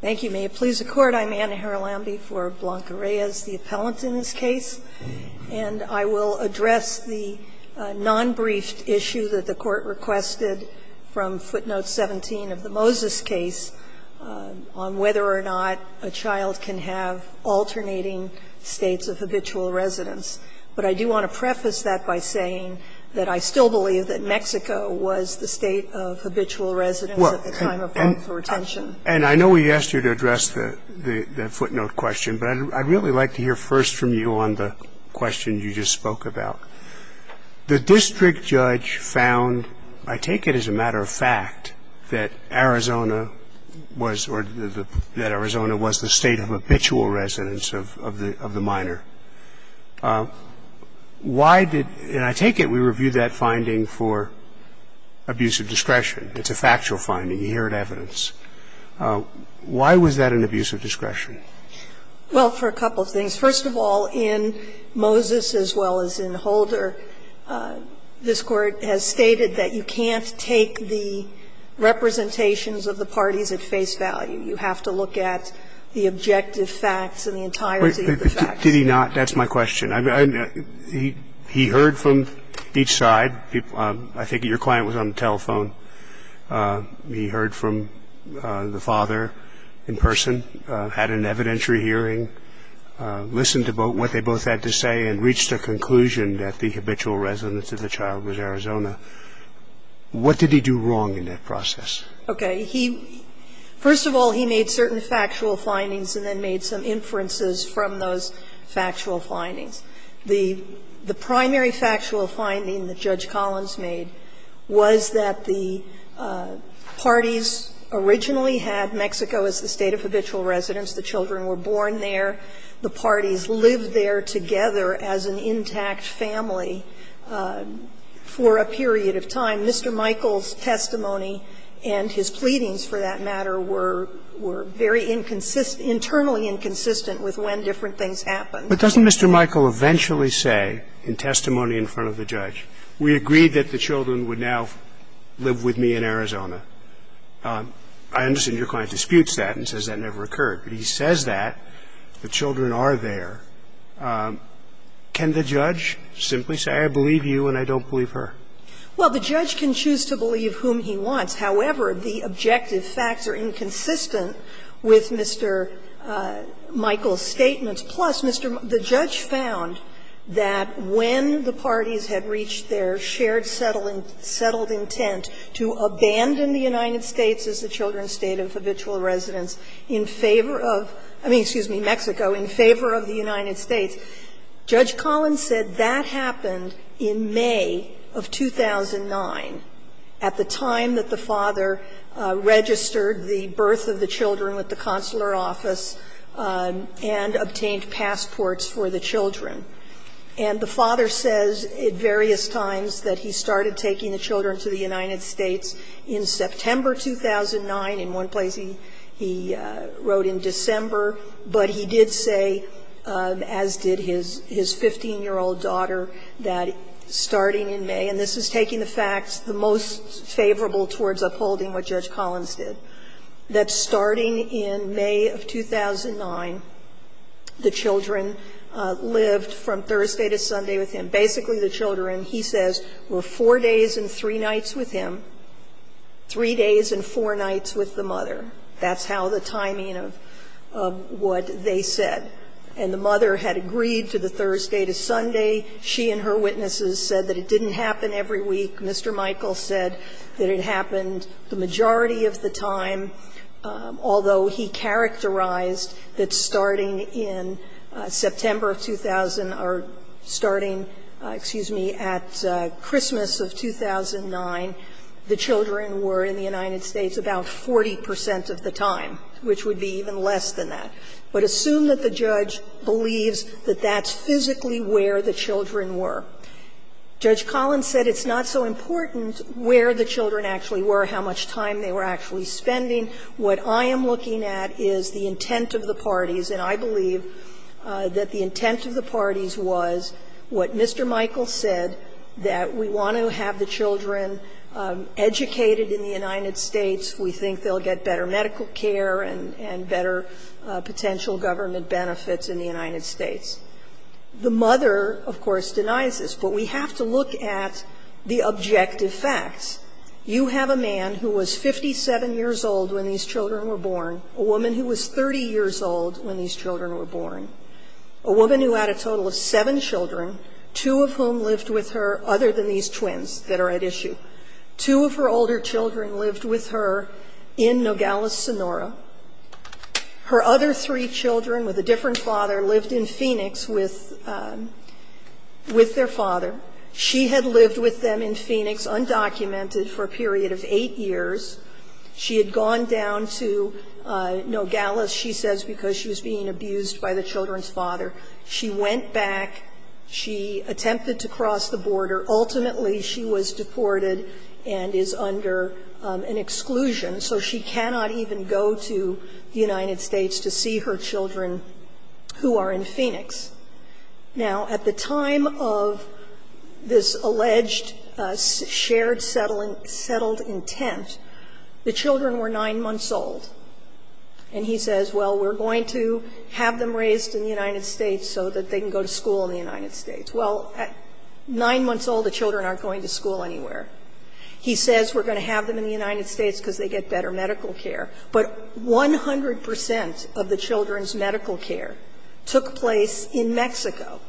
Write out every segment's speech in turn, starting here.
Thank you. May it please the Court, I'm Anna Haralambi for Blanca Reyes, the appellant in this case, and I will address the non-briefed issue that the Court requested from footnote 17 of the Moses case on whether or not a child can have alternating states of habitual residence. But I do want to preface that by saying that I still believe that Mexico was the state of habitual residence at the time of parental retention. And I know we asked you to address the footnote question, but I'd really like to hear first from you on the question you just spoke about. The district judge found, I take it as a matter of fact, that Arizona was the state of habitual residence of the minor. Why did – and I take it we reviewed that finding for abuse of discretion. It's a factual finding. You hear it in evidence. Why was that an abuse of discretion? Well, for a couple of things. First of all, in Moses as well as in Holder, this Court has stated that you can't take the representations of the parties at face value. You have to look at the objective facts and the entirety of the facts. Did he not? That's my question. He heard from each side. I think your client was on the telephone. He heard from the father in person, had an evidentiary hearing, listened to what they both had to say and reached a conclusion that the habitual residence of the child was Arizona. What did he do wrong in that process? Okay. He – first of all, he made certain factual findings and then made some inferences from those factual findings. The primary factual finding that Judge Collins made was that the parties originally had Mexico as the state of habitual residence. The children were born there. The parties lived there together as an intact family for a period of time. Mr. Michael's testimony and his pleadings, for that matter, were very inconsistent – internally inconsistent with when different things happened. But doesn't Mr. Michael eventually say in testimony in front of the judge, we agreed that the children would now live with me in Arizona? I understand your client disputes that and says that never occurred. But he says that the children are there. Can the judge simply say, I believe you and I don't believe her? Well, the judge can choose to believe whom he wants. However, the objective facts are inconsistent with Mr. Michael's statements. Plus, Mr. – the judge found that when the parties had reached their shared settled intent to abandon the United States as the children's state of habitual residence in favor of – I mean, excuse me, Mexico, in favor of the United States, Judge Collins said that happened in May of 2009, at the time that the father registered the birth of the children with the consular office and obtained passports for the children. And the father says at various times that he started taking the children to the United States in September 2009, in one place he wrote in December, but he did say, as did his 15-year-old daughter, that starting in May – and this is taking the facts the most favorable towards upholding what Judge Collins did – that starting in May of 2009, the children lived from Thursday to Sunday with him. Basically, the children, he says, were 4 days and 3 nights with him, 3 days and 4 nights with the mother. That's how the timing of what they said. And the mother had agreed to the Thursday to Sunday. She and her witnesses said that it didn't happen every week. Mr. Michael said that it happened the majority of the time, although he characterized that starting in September of 2000 or starting, excuse me, at Christmas of 2009, the children were in the United States about 40 percent of the time, which would be even less than that. But assume that the judge believes that that's physically where the children were. Judge Collins said it's not so important where the children actually were, how much time they were actually spending. What I am looking at is the intent of the parties, and I believe that the intent of the parties was what Mr. Michael said, that we want to have the children educated in the United States. We think they'll get better medical care and better potential government benefits in the United States. The mother, of course, denies this, but we have to look at the objective facts. You have a man who was 57 years old when these children were born, a woman who was 30 years old when these children were born, a woman who had a total of seven children, two of whom lived with her other than these twins that are at issue. Two of her older children lived with her in Nogales, Sonora. Her other three children with a different father lived in Phoenix with their father. She had lived with them in Phoenix undocumented for a period of eight years. She had gone down to Nogales, she says, because she was being abused by the children's father. She went back. She attempted to cross the border. Ultimately, she was deported and is under an exclusion, so she cannot even go to the United States to see her children who are in Phoenix. Now, at the time of this alleged shared settled intent, the children were 9 months old, and he says, well, we're going to have them raised in the United States so that they can go to school in the United States. Well, 9 months old, the children aren't going to school anywhere. He says, we're going to have them in the United States because they get better medical care. But 100 percent of the children's medical care took place in Mexico.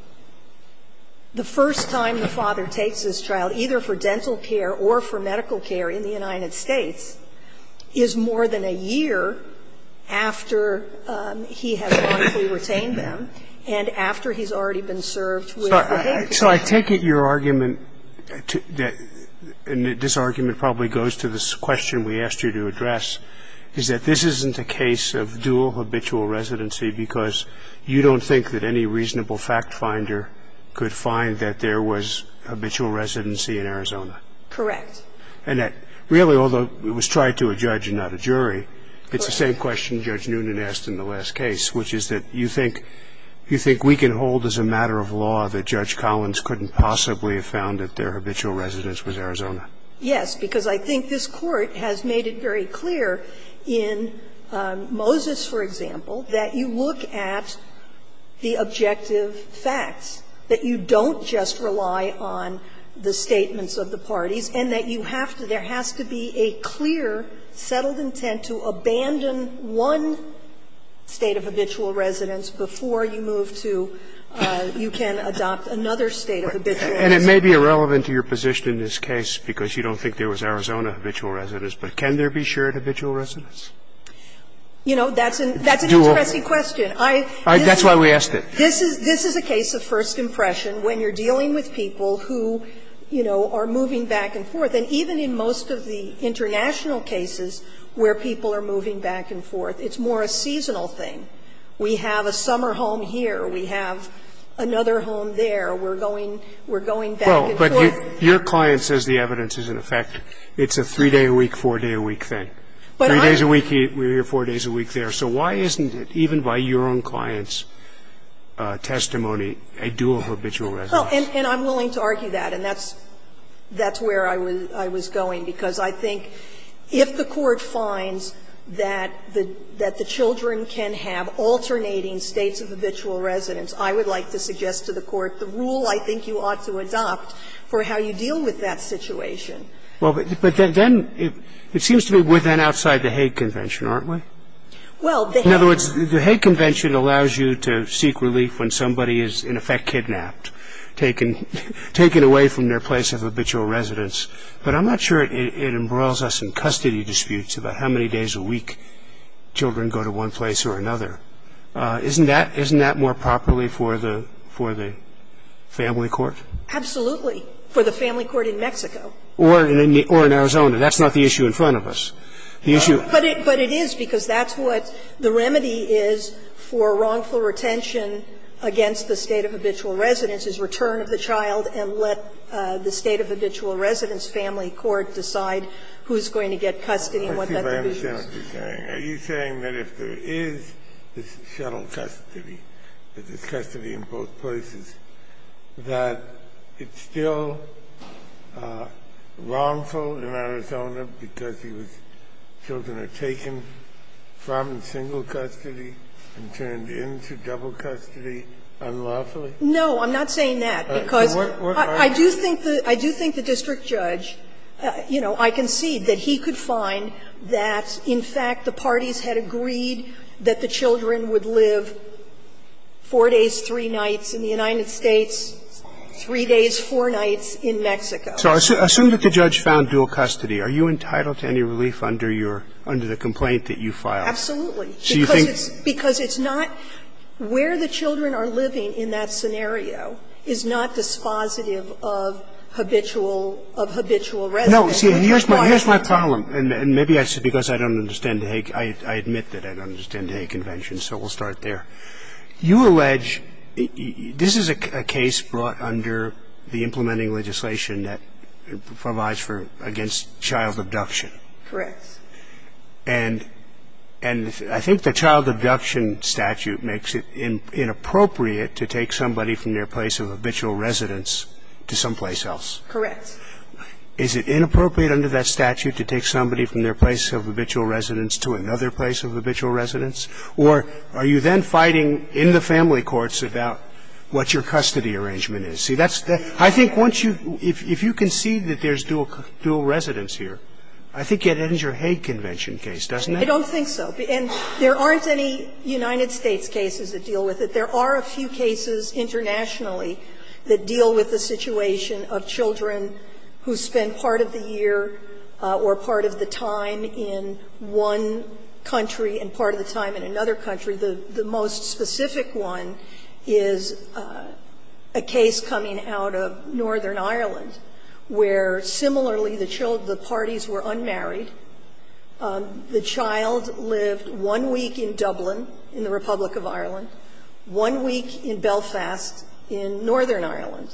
The first time the father takes his child, either for dental care or for medical care in the United States, is more than a year after he has modestly retained them, and after he's already been served with the baby. So I take it your argument, and this argument probably goes to this question we asked you to address, is that this isn't a case of dual habitual residency because you don't think that any reasonable fact finder could find that there was habitual residency in Arizona. Correct. And that really, although it was tried to a judge and not a jury, it's the same question Judge Noonan asked in the last case, which is that you think we can hold as a matter of law that Judge Collins couldn't possibly have found that their habitual residence was Arizona. Yes, because I think this Court has made it very clear in Moses, for example, that you look at the objective facts, that you don't just rely on the statements of the parties, and that you have to – there has to be a clear, settled intent to abandon one state of habitual residence before you move to – you can adopt another state of habitual residence. And it may be irrelevant to your position in this case because you don't think there was Arizona habitual residence, but can there be shared habitual residence? You know, that's an interesting question. That's why we asked it. This is a case of first impression when you're dealing with people who, you know, are moving back and forth. And even in most of the international cases where people are moving back and forth, it's more a seasonal thing. We have a summer home here. We have another home there. We're going back and forth. Well, but your client says the evidence is in effect. It's a three-day-a-week, four-day-a-week thing. Three days a week here, four days a week there. So why isn't it, even by your own client's testimony, a dual habitual residence? Well, and I'm willing to argue that, and that's where I was going, because I think if the Court finds that the children can have alternating states of habitual residence, I would like to suggest to the Court the rule I think you ought to adopt for how you deal with that situation. Well, but then it seems to me we're then outside the Hague Convention, aren't we? Well, the Hague Convention allows you to seek relief when somebody is in effect kidnapped. Taken away from their place of habitual residence. But I'm not sure it embroils us in custody disputes about how many days a week children go to one place or another. Isn't that more properly for the family court? Absolutely, for the family court in Mexico. Or in Arizona. That's not the issue in front of us. The issue of the family court. But it is, because that's what the remedy is for wrongful retention against the state of habitual residence, is return of the child and let the state of habitual residence family court decide who's going to get custody and what that division is. Are you saying that if there is this shuttle custody, there's custody in both places, that it's still wrongful in Arizona because he was children are taken from single custody and turned into double custody unlawfully? No, I'm not saying that, because I do think the district judge, you know, I concede that he could find that, in fact, the parties had agreed that the children would live 4 days, 3 nights in the United States, 3 days, 4 nights in Mexico. So assume that the judge found dual custody. Are you entitled to any relief under your under the complaint that you filed? Absolutely. Because it's not where the children are living in that scenario is not dispositive of habitual residence. No, see, and here's my problem, and maybe that's because I don't understand the Hague. I admit that I don't understand the Hague Convention, so we'll start there. You allege this is a case brought under the implementing legislation that provides for against child abduction. Correct. And I think the child abduction statute makes it inappropriate to take somebody from their place of habitual residence to someplace else. Correct. Is it inappropriate under that statute to take somebody from their place of habitual residence to another place of habitual residence? Or are you then fighting in the family courts about what your custody arrangement is? See, that's the – I think once you – if you concede that there's dual residence here, I think it ends your Hague Convention case, doesn't it? I don't think so. And there aren't any United States cases that deal with it. There are a few cases internationally that deal with the situation of children who spend part of the year or part of the time in one country and part of the time in another country. The most specific one is a case coming out of Northern Ireland, where, similarly, the parties were unmarried. The child lived one week in Dublin in the Republic of Ireland, one week in Belfast in Northern Ireland.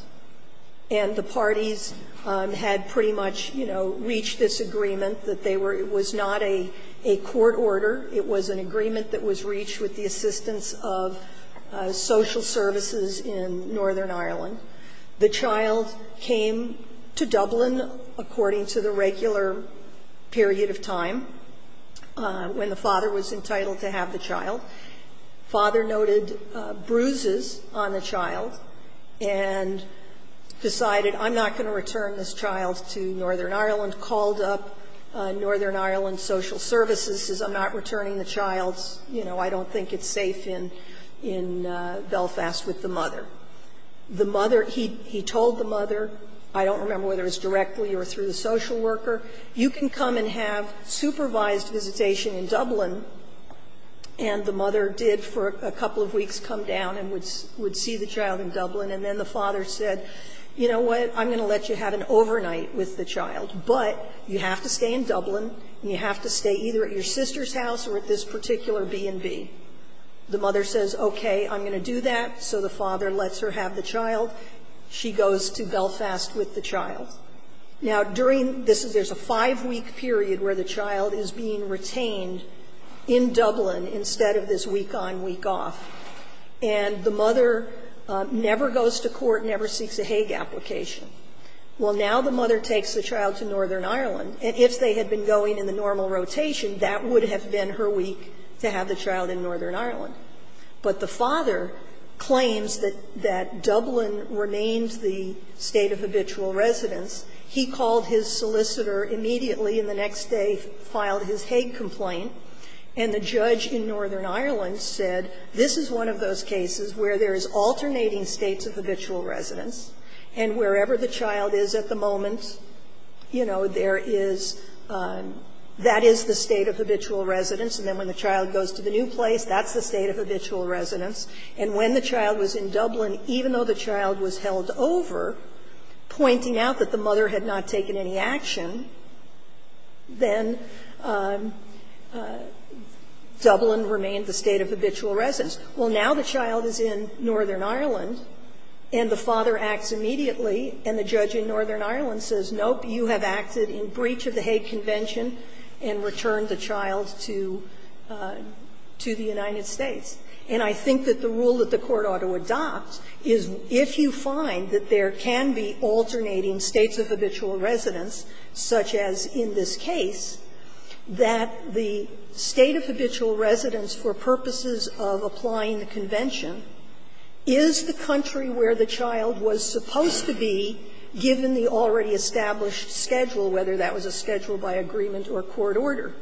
And the parties had pretty much, you know, reached this agreement that they were – it was not a court order. It was an agreement that was reached with the assistance of social services in Northern Ireland. The child came to Dublin according to the regular period of time when the father was entitled to have the child. Father noted bruises on the child and decided, I'm not going to return this child to Northern Ireland, called up Northern Ireland social services, says I'm not returning the child. You know, I don't think it's safe in Belfast with the mother. The mother – he told the mother, I don't remember whether it was directly or through the social worker, you can come and have supervised visitation in Dublin. And the mother did, for a couple of weeks, come down and would see the child in Dublin. And then the father said, you know what, I'm going to let you have an overnight with the child, but you have to stay in Dublin and you have to stay either at your sister's house or at this particular B&B. The mother says, okay, I'm going to do that. So the father lets her have the child. She goes to Belfast with the child. Now, during this, there's a five-week period where the child is being retained in Dublin instead of this week on, week off. And the mother never goes to court, never seeks a Hague application. Well, now the mother takes the child to Northern Ireland. And if they had been going in the normal rotation, that would have been her week to have the child in Northern Ireland. But the father claims that Dublin remains the State of Habitual Residence. He called his solicitor immediately and the next day filed his Hague complaint. And the judge in Northern Ireland said, this is one of those cases where there is alternating States of Habitual Residence, and wherever the child is at the moment, you know, there is the State of Habitual Residence, and then when the child goes to the new place, that's the State of Habitual Residence. And when the child was in Dublin, even though the child was held over, pointing out that the mother had not taken any action, then Dublin remained the State of Habitual Residence. Well, now the child is in Northern Ireland, and the father acts immediately, and the judge in Northern Ireland says, nope, you have acted in breach of the Hague Convention and returned the child to the United States. And I think that the rule that the Court ought to adopt is, if you find that there can be alternating States of Habitual Residence, such as in this case, that the State of Habitual Residence, for purposes of applying the convention, is the country where the child was supposed to be, given the already established schedule, whether that was a schedule by agreement or court order.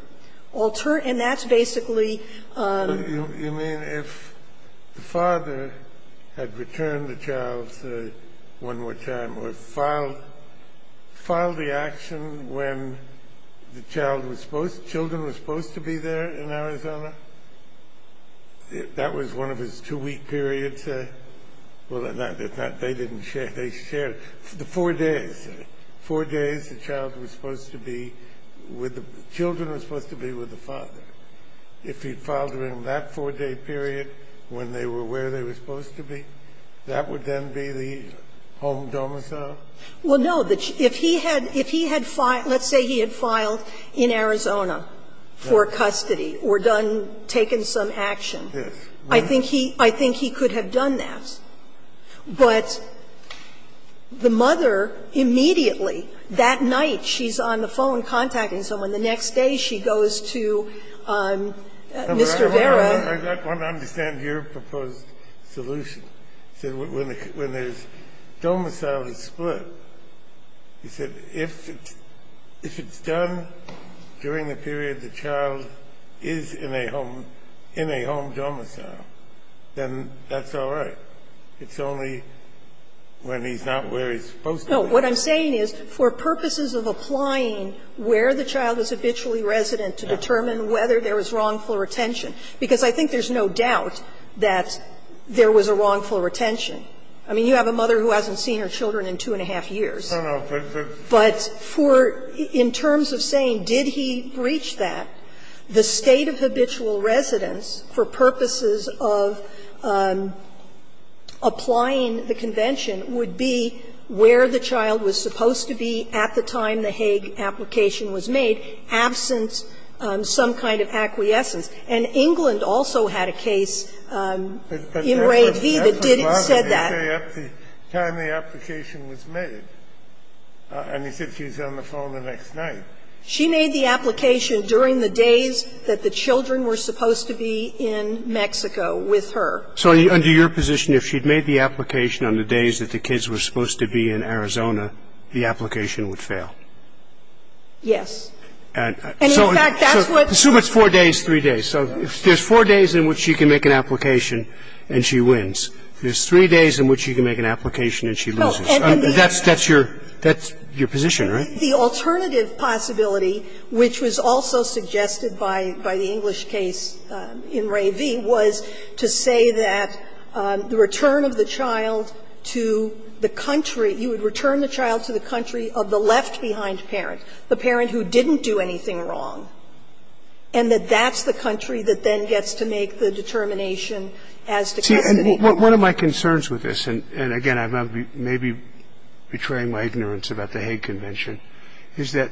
And that's basically the rule. Kennedy, you mean if the father had returned the child, say, one more time, or filed the action when the child was supposed to be there in Arizona, that was one of his two-week periods, say? Well, they didn't share, they shared the four days. Four days the child was supposed to be with the children are supposed to be with the father. If he filed during that four-day period when they were where they were supposed to be, that would then be the home domicile? Well, no. If he had filed, let's say he had filed in Arizona for custody or done, taken some action, I think he could have done that. But the mother immediately, that night she's on the phone contacting someone. The next day she goes to Mr. Vera. I want to understand your proposed solution. When the domicile is split, you said if it's done during the period the child is in a home, in a home domicile, then that's all right. It's only when he's not where he's supposed to be. No. What I'm saying is for purposes of applying where the child is habitually resident to determine whether there was wrongful retention, because I think there's no doubt that there was a wrongful retention. I mean, you have a mother who hasn't seen her children in two and a half years. But for the, in terms of saying did he reach that, the state of habitual residence for purposes of applying the convention would be where the child was supposed to be at the time the Hague application was made, absent some kind of acquiescence. And England also had a case in Ravee that didn't say that. But that's what the law says, say at the time the application was made. And he said she's on the phone the next night. She made the application during the days that the children were supposed to be in Mexico with her. So under your position, if she'd made the application on the days that the kids were supposed to be in Arizona, the application would fail? Yes. And in fact, that's what the law says. So it's four days, three days. So if there's four days in which she can make an application and she wins, there's three days in which she can make an application and she loses. That's your position, right? The alternative possibility, which was also suggested by the English case in Ravee, was to say that the return of the child to the country, you would return the child to the country of the left-behind parent, the parent who didn't do anything wrong, and that that's the country that then gets to make the determination as to custody. Well, one of my concerns with this, and again, I may be betraying my ignorance about the Hague Convention, is that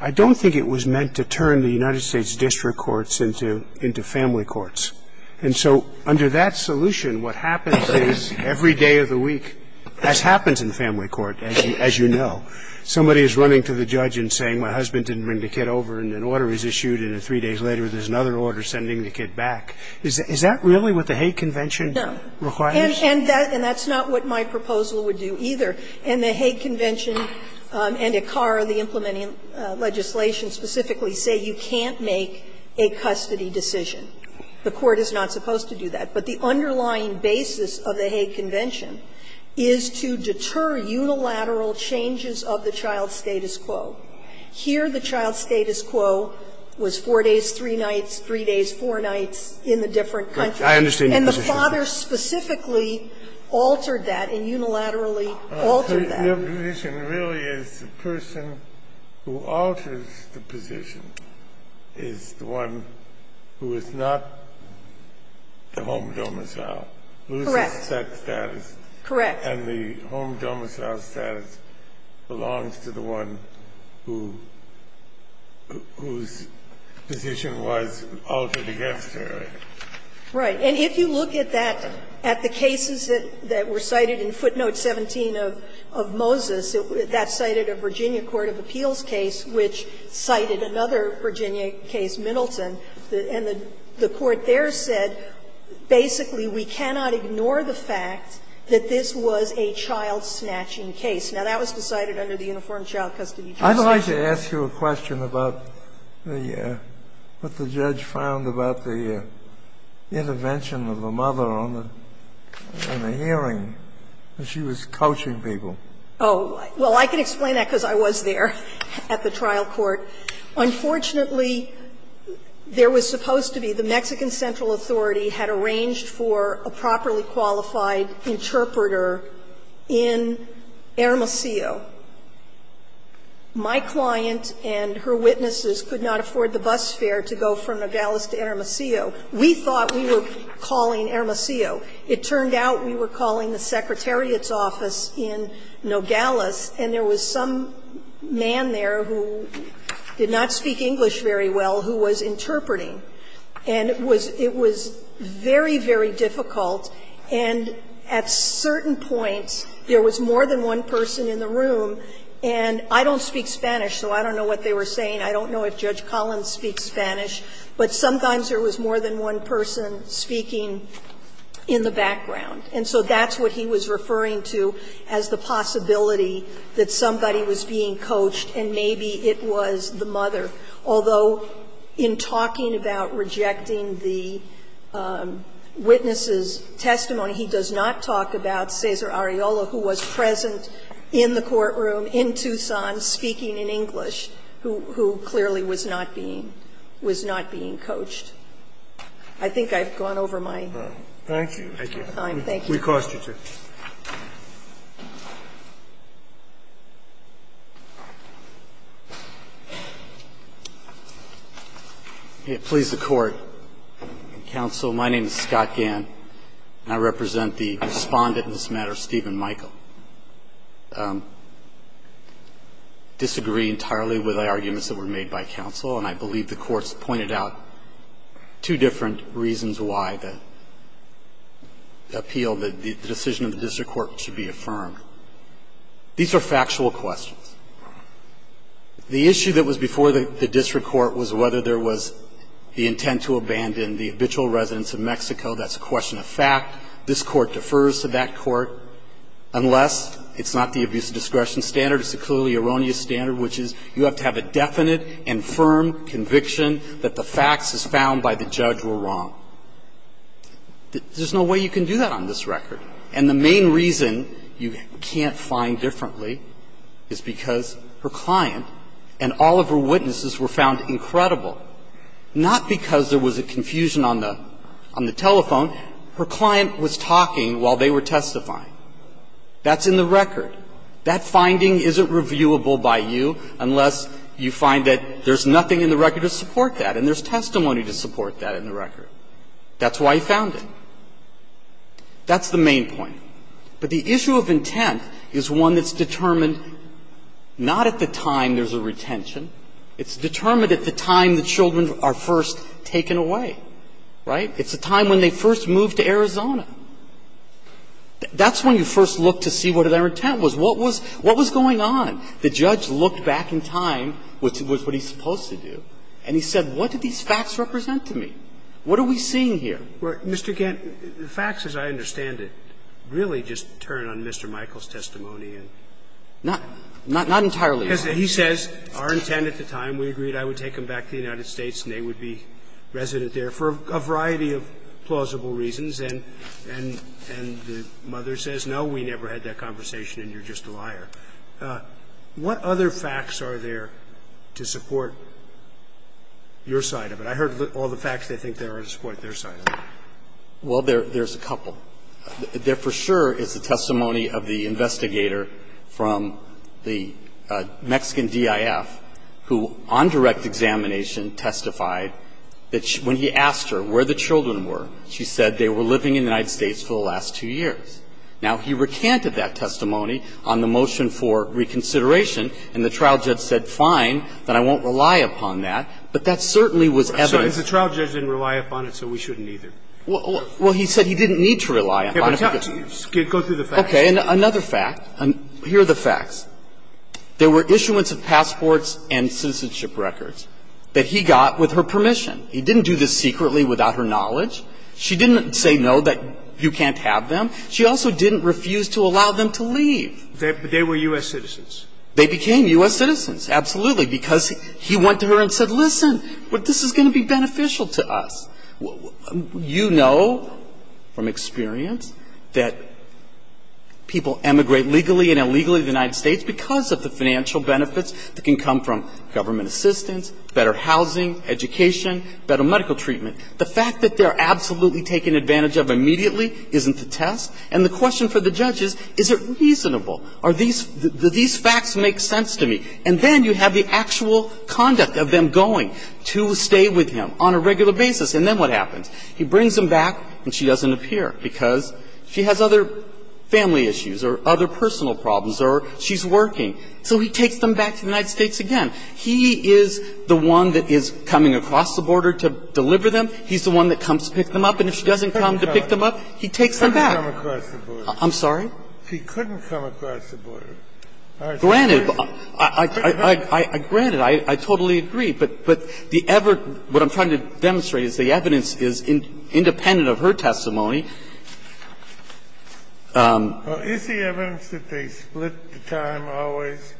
I don't think it was meant to turn the United States district courts into family courts. And so under that solution, what happens is every day of the week, as happens in family court, as you know, somebody is running to the judge and saying, my husband didn't bring the kid over, and an order is issued, and then three days later, there's another order sending the kid back. Is that really what the Hague Convention? No. And that's not what my proposal would do, either. And the Hague Convention and ACAR, the implementing legislation, specifically say you can't make a custody decision. The Court is not supposed to do that. But the underlying basis of the Hague Convention is to deter unilateral changes of the child status quo. Here, the child status quo was 4 days, 3 nights, 3 days, 4 nights in the different countries. And the father specifically altered that and unilaterally altered that. The position really is the person who alters the position is the one who is not the home domicile. Correct. Correct. And the home domicile status belongs to the one whose position was altered against her. Right. And if you look at that, at the cases that were cited in footnote 17 of Moses, that cited a Virginia court of appeals case which cited another Virginia case, Middleton, and the court there said basically we cannot ignore the fact that this was a child snatching case. Now, that was decided under the Uniform Child Custody Justice. I'd like to ask you a question about the what the judge found about the intervention of the mother on the hearing, that she was coaching people. Oh, well, I can explain that because I was there at the trial court. Unfortunately, there was supposed to be the Mexican central authority had arranged for a properly qualified interpreter in Hermosillo. My client and her witnesses could not afford the bus fare to go from Nogales to Hermosillo. We thought we were calling Hermosillo. It turned out we were calling the secretariat's office in Nogales, and there was some man there who did not speak English very well who was interpreting. And it was very, very difficult, and at certain points there was more than one person in the room, and I don't speak Spanish, so I don't know what they were saying. I don't know if Judge Collins speaks Spanish, but sometimes there was more than one person speaking in the background. And so that's what he was referring to as the possibility that somebody was being coached and maybe it was the mother. Although in talking about rejecting the witness's testimony, he does not talk about the mother, who was present in the courtroom, in Tucson, speaking in English, who clearly was not being coached. I think I've gone over my time. Thank you. Thank you. We cost you two. Please, the Court. Counsel, my name is Scott Gann. And I represent the respondent in this matter, Stephen Michael. Disagree entirely with the arguments that were made by counsel, and I believe the Court's pointed out two different reasons why the appeal, the decision of the district court should be affirmed. These are factual questions. The issue that was before the district court was whether there was the intent to abandon the habitual residents of Mexico. That's a question of fact. This Court defers to that Court, unless it's not the abuse of discretion standard, it's the clearly erroneous standard, which is you have to have a definite and firm conviction that the facts as found by the judge were wrong. There's no way you can do that on this record. And the main reason you can't find differently is because her client and all of her client was talking while they were testifying. That's in the record. That finding isn't reviewable by you unless you find that there's nothing in the record to support that, and there's testimony to support that in the record. That's why he found it. That's the main point. But the issue of intent is one that's determined not at the time there's a retention. It's determined at the time the children are first taken away. Right? It's the time when they first moved to Arizona. That's when you first look to see what their intent was. What was going on? The judge looked back in time, which was what he's supposed to do, and he said, what do these facts represent to me? What are we seeing here? Mr. Gant, the facts as I understand it really just turn on Mr. Michael's testimony and not entirely. He says our intent at the time, we agreed I would take them back to the United States. And he says, no, we never had that conversation, and you're just a liar. What other facts are there to support your side of it? I heard all the facts they think there are to support their side of it. Well, there's a couple. There for sure is the testimony of the investigator from the Mexican D.I.F. who on direct examination testified that when he asked her where the children were, she said they were living in the United States for the last two years. Now, he recanted that testimony on the motion for reconsideration, and the trial judge said, fine, then I won't rely upon that. But that certainly was evident. I'm sorry. The trial judge didn't rely upon it, so we shouldn't either. Well, he said he didn't need to rely upon it. Go through the facts. Okay. Another fact. Here are the facts. There were issuance of passports and citizenship records that he got with her permission. He didn't do this secretly without her knowledge. She didn't say no, that you can't have them. She also didn't refuse to allow them to leave. But they were U.S. citizens. They became U.S. citizens, absolutely, because he went to her and said, listen, this is going to be beneficial to us. You know from experience that people emigrate legally and illegally to the United States because of the financial benefits that can come from government assistance, better housing, education, better medical treatment. The fact that they're absolutely taken advantage of immediately isn't the test. And the question for the judge is, is it reasonable? Are these facts make sense to me? And then you have the actual conduct of them going to stay with him on a regular basis, and then what happens? He brings them back, and she doesn't appear because she has other family issues or other personal problems or she's working. So he takes them back to the United States again. He is the one that is coming across the border to deliver them. He's the one that comes to pick them up. And if she doesn't come to pick them up, he takes them back. He couldn't come across the border. I'm sorry? He couldn't come across the border. Granted, I totally agree. But the ever – what I'm trying to demonstrate is the evidence is independent of her testimony. Kennedy, is the evidence that they split the time always,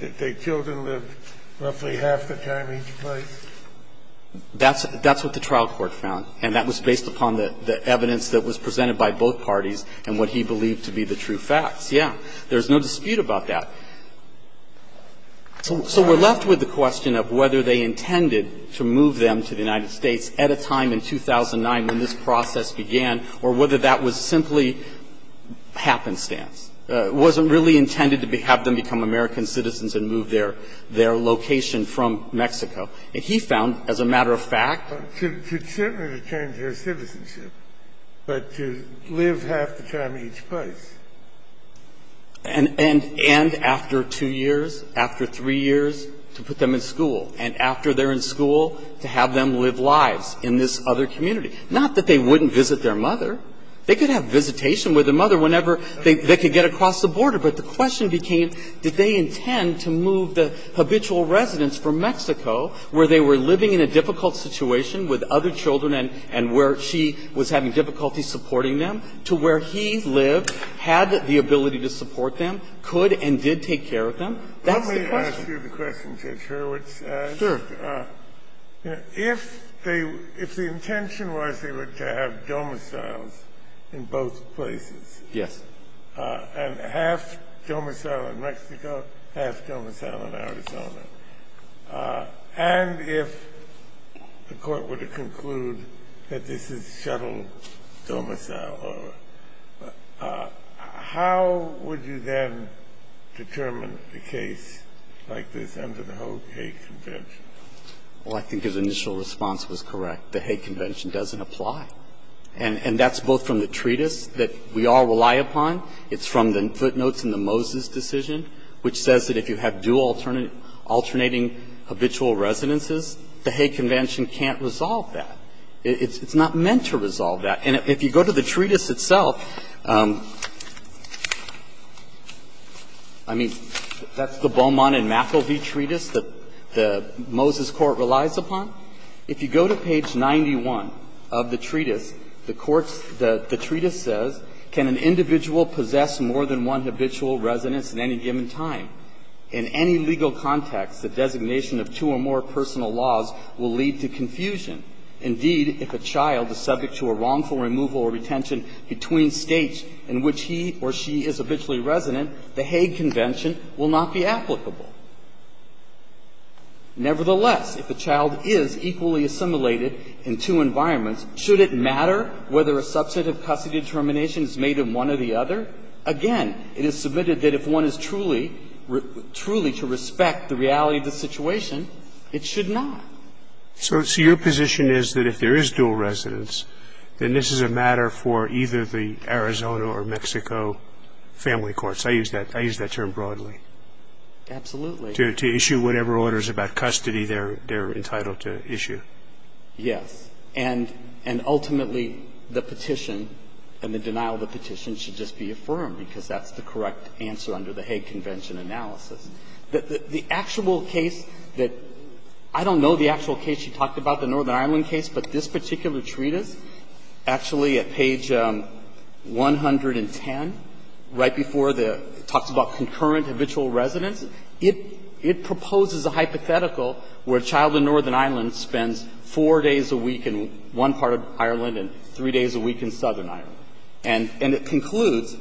that they killed and lived roughly half the time each place? That's what the trial court found. And that was based upon the evidence that was presented by both parties and what he believed to be the true facts. There's no dispute about that. So we're left with the question of whether they intended to move them to the United States at a time in 2009 when this process began or whether that was simply happenstance, wasn't really intended to have them become American citizens and move their location from Mexico. And he found, as a matter of fact – To certainly return to their citizenship, but to live half the time each place. And after two years, after three years, to put them in school. And after they're in school, to have them live lives in this other community. Not that they wouldn't visit their mother. They could have visitation with their mother whenever they could get across the border. But the question became, did they intend to move the habitual residence from Mexico, where they were living in a difficult situation with other children and where she was having difficulty supporting them, to where he lived, had the ability to support them, could and did take care of them? That's the question. Let me ask you the question, Judge Hurwitz. Sure. If they – if the intention was they were to have domiciles in both places. Yes. And half domicile in Mexico, half domicile in Arizona. And if the court were to conclude that this is shuttle domicile, how would you then determine a case like this under the whole hate convention? Well, I think his initial response was correct. The hate convention doesn't apply. And that's both from the treatise that we all rely upon. It's from the footnotes in the Moses decision, which says that if you have dual alternating habitual residences, the hate convention can't resolve that. It's not meant to resolve that. And if you go to the treatise itself, I mean, that's the Beaumont and McIlvey treatise that the Moses court relies upon. If you go to page 91 of the treatise, the court's – the treatise says, can an individual possess more than one habitual residence at any given time? In any legal context, the designation of two or more personal laws will lead to confusion. Indeed, if a child is subject to a wrongful removal or retention between states in which he or she is habitually resident, the hate convention will not be applicable. Nevertheless, if a child is equally assimilated in two environments, should it matter whether a substantive custody determination is made in one or the other? Again, it is submitted that if one is truly – truly to respect the reality of the situation, it should not. So your position is that if there is dual residence, then this is a matter for either the Arizona or Mexico family courts. I use that – I use that term broadly. Absolutely. To issue whatever orders about custody they're entitled to issue. Yes. And – and ultimately, the petition and the denial of the petition should just be affirmed, because that's the correct answer under the hate convention analysis. The actual case that – I don't know the actual case you talked about, the Northern Ireland case, but this particular treatise, actually at page 110, right before the – it talks about concurrent habitual residence, it – it proposes a hypothetical where a child in Northern Ireland spends four days a week in one part of Ireland and three days a week in Southern Ireland. And – and it concludes,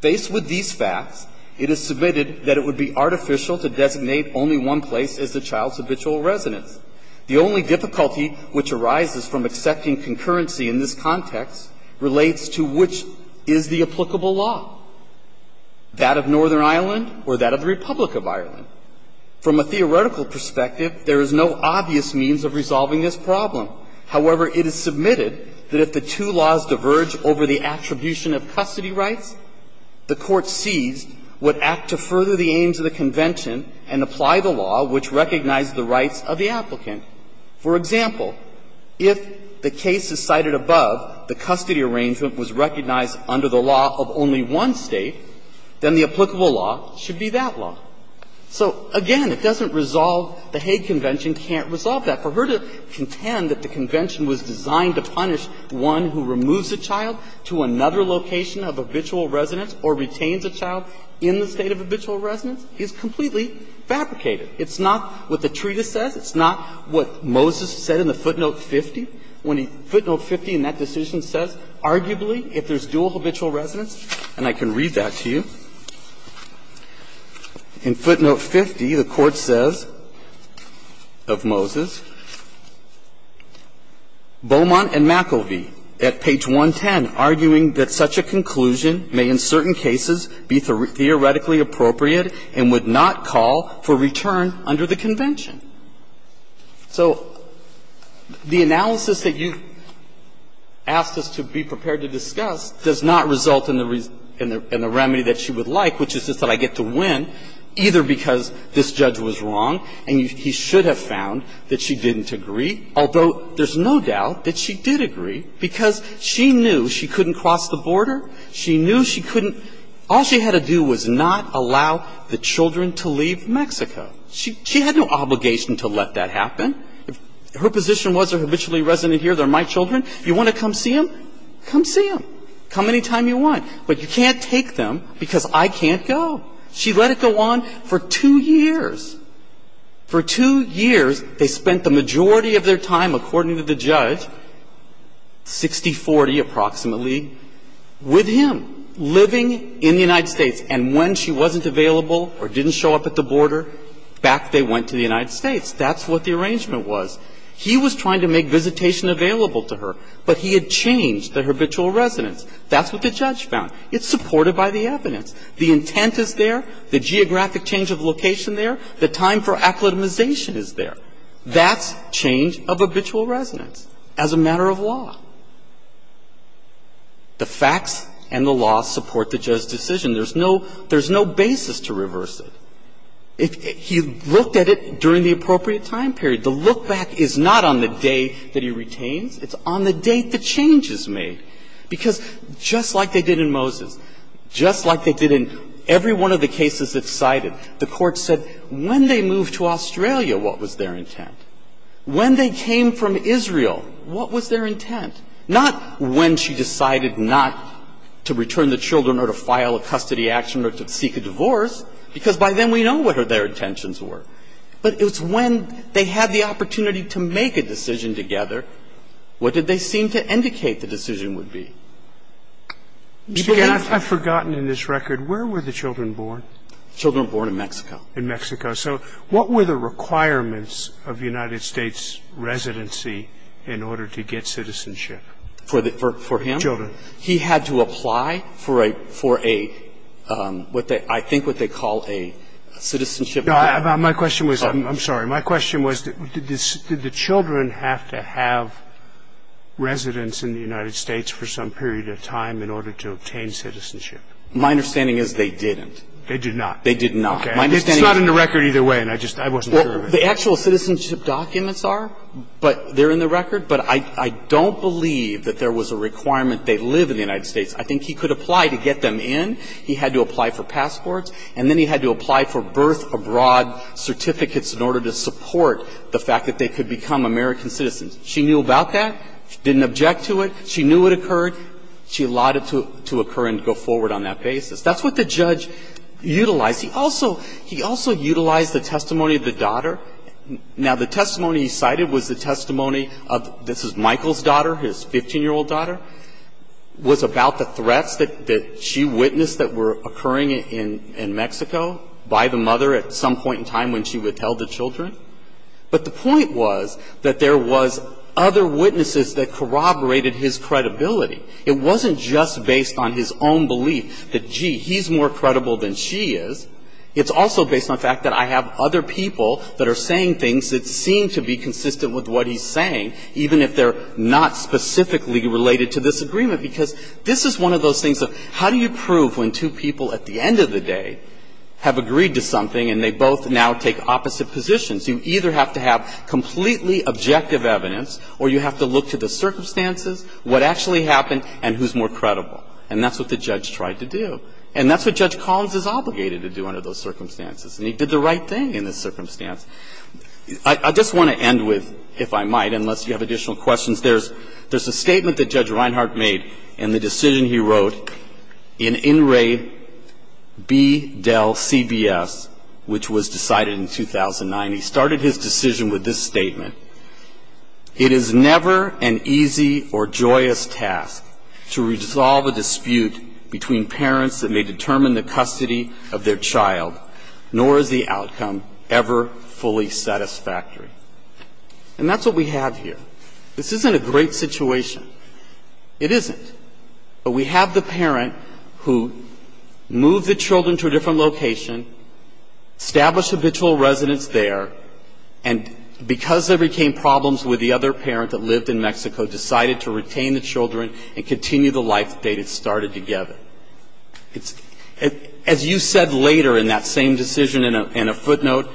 ''Faced with these facts, it is submitted that it would be artificial to designate only one place as the child's habitual residence. The only difficulty which arises from accepting concurrency in this context relates to which is the applicable law, that of Northern Ireland or that of the Republic of Ireland.'' From a theoretical perspective, there is no obvious means of resolving this problem. However, it is submitted that if the two laws diverge over the attribution of custody rights, the court sees what act to further the aims of the convention and apply the law which recognized the rights of the applicant. For example, if the case is cited above, the custody arrangement was recognized under the law of only one State, then the applicable law should be that law. So, again, it doesn't resolve the Hague Convention can't resolve that. For her to contend that the convention was designed to punish one who removes a child to another location of habitual residence or retains a child in the State of habitual residence is completely fabricated. It's not what the treatise says. It's not what Moses said in the footnote 50. When he ---- footnote 50 in that decision says, arguably, if there's dual habitual residence, and I can read that to you, in footnote 50, the Court says of Moses, ''Beaumont and McIlvey, at page 110, arguing that such a conclusion may in certain cases be theoretically appropriate and would not call for return under the convention.'' So the analysis that you asked us to be prepared to discuss does not result in the remedy that she would like, which is just that I get to win, either because this judge was wrong and he should have found that she didn't agree, although there's no doubt that she did agree, because she knew she couldn't cross the border. She knew she couldn't ---- all she had to do was not allow the children to leave Mexico. She had no obligation to let that happen. If her position was they're habitually resident here, they're my children, you want to come see them, come see them. Come any time you want. But you can't take them because I can't go. She let it go on for two years. For two years, they spent the majority of their time, according to the judge, 60-40 approximately, with him, living in the United States. And when she wasn't available or didn't show up at the border, back they went to the United States. That's what the arrangement was. He was trying to make visitation available to her, but he had changed the habitual residence. That's what the judge found. It's supported by the evidence. The intent is there. The geographic change of location there. The time for acclimatization is there. That's change of habitual residence as a matter of law. The facts and the law support the judge's decision. There's no basis to reverse it. He looked at it during the appropriate time period. The look-back is not on the day that he retains. It's on the date the change is made. Because just like they did in Moses, just like they did in every one of the cases that's cited, the Court said when they moved to Australia, what was their intent? When they came from Israel, what was their intent? Not when she decided not to return the children or to file a custody action or to seek a divorce, because by then we know what their intentions were. But it was when they had the opportunity to make a decision together, what did they seem to indicate the decision would be? You began to say. Scalia, I've forgotten in this record, where were the children born? The children were born in Mexico. In Mexico. In Mexico. So what were the requirements of United States residency in order to get citizenship? For him? Children. He had to apply for a ‑‑ for a ‑‑ I think what they call a citizenship. My question was ‑‑ I'm sorry. My question was did the children have to have residence in the United States for some period of time in order to obtain citizenship? My understanding is they didn't. They did not. They did not. Okay. It's not in the record either way, and I just ‑‑ I wasn't sure of it. Well, the actual citizenship documents are, but they're in the record. But I don't believe that there was a requirement they live in the United States. I think he could apply to get them in. He had to apply for passports, and then he had to apply for birth abroad certificates in order to support the fact that they could become American citizens. She knew about that. She didn't object to it. She knew it occurred. She allowed it to occur and go forward on that basis. That's what the judge utilized. He also ‑‑ he also utilized the testimony of the daughter. Now, the testimony he cited was the testimony of ‑‑ this is Michael's daughter, his 15‑year‑old daughter, was about the threats that she witnessed that were occurring in Mexico by the mother at some point in time when she withheld the children. But the point was that there was other witnesses that corroborated his credibility. It wasn't just based on his own belief that, gee, he's more credible than she is. It's also based on the fact that I have other people that are saying things that seem to be consistent with what he's saying, even if they're not specifically related to this agreement. Because this is one of those things of how do you prove when two people at the end of the day have agreed to something and they both now take opposite positions? You either have to have completely objective evidence or you have to look to the And that's what the judge tried to do. And that's what Judge Collins is obligated to do under those circumstances. And he did the right thing in this circumstance. I just want to end with, if I might, unless you have additional questions, there's a statement that Judge Reinhart made in the decision he wrote in In Re, B, Del, CBS, which was decided in 2009. He started his decision with this statement. It is never an easy or joyous task to resolve a dispute between parents that may determine the custody of their child, nor is the outcome ever fully satisfactory. And that's what we have here. This isn't a great situation. It isn't. But we have the parent who moved the children to a different location, established habitual residence there, and because there became problems with the other parent that lived in Mexico, decided to retain the children and continue the life they had started together. As you said later in that same decision in a footnote,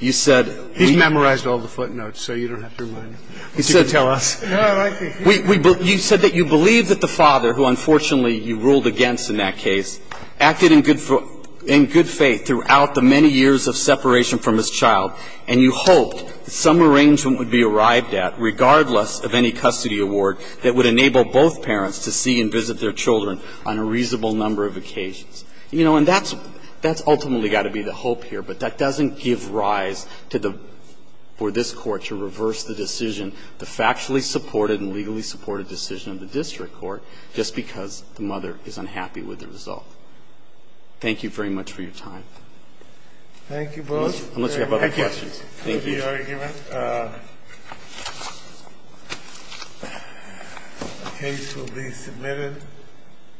you said... He's memorized all the footnotes, so you don't have to remind me. He said... You can tell us. You said that you believe that the father, who unfortunately you ruled against in that case, acted in good faith throughout the many years of separation from his child, and you hoped that some arrangement would be arrived at, regardless of any custody award, that would enable both parents to see and visit their children on a reasonable number of occasions. You know, and that's ultimately got to be the hope here, but that doesn't give rise for this Court to reverse the decision, the factually supported and legally supported decision of the district court, just because the mother is unhappy with the result. Thank you very much for your time. Thank you both. Unless you have other questions. Thank you. The case will be submitted.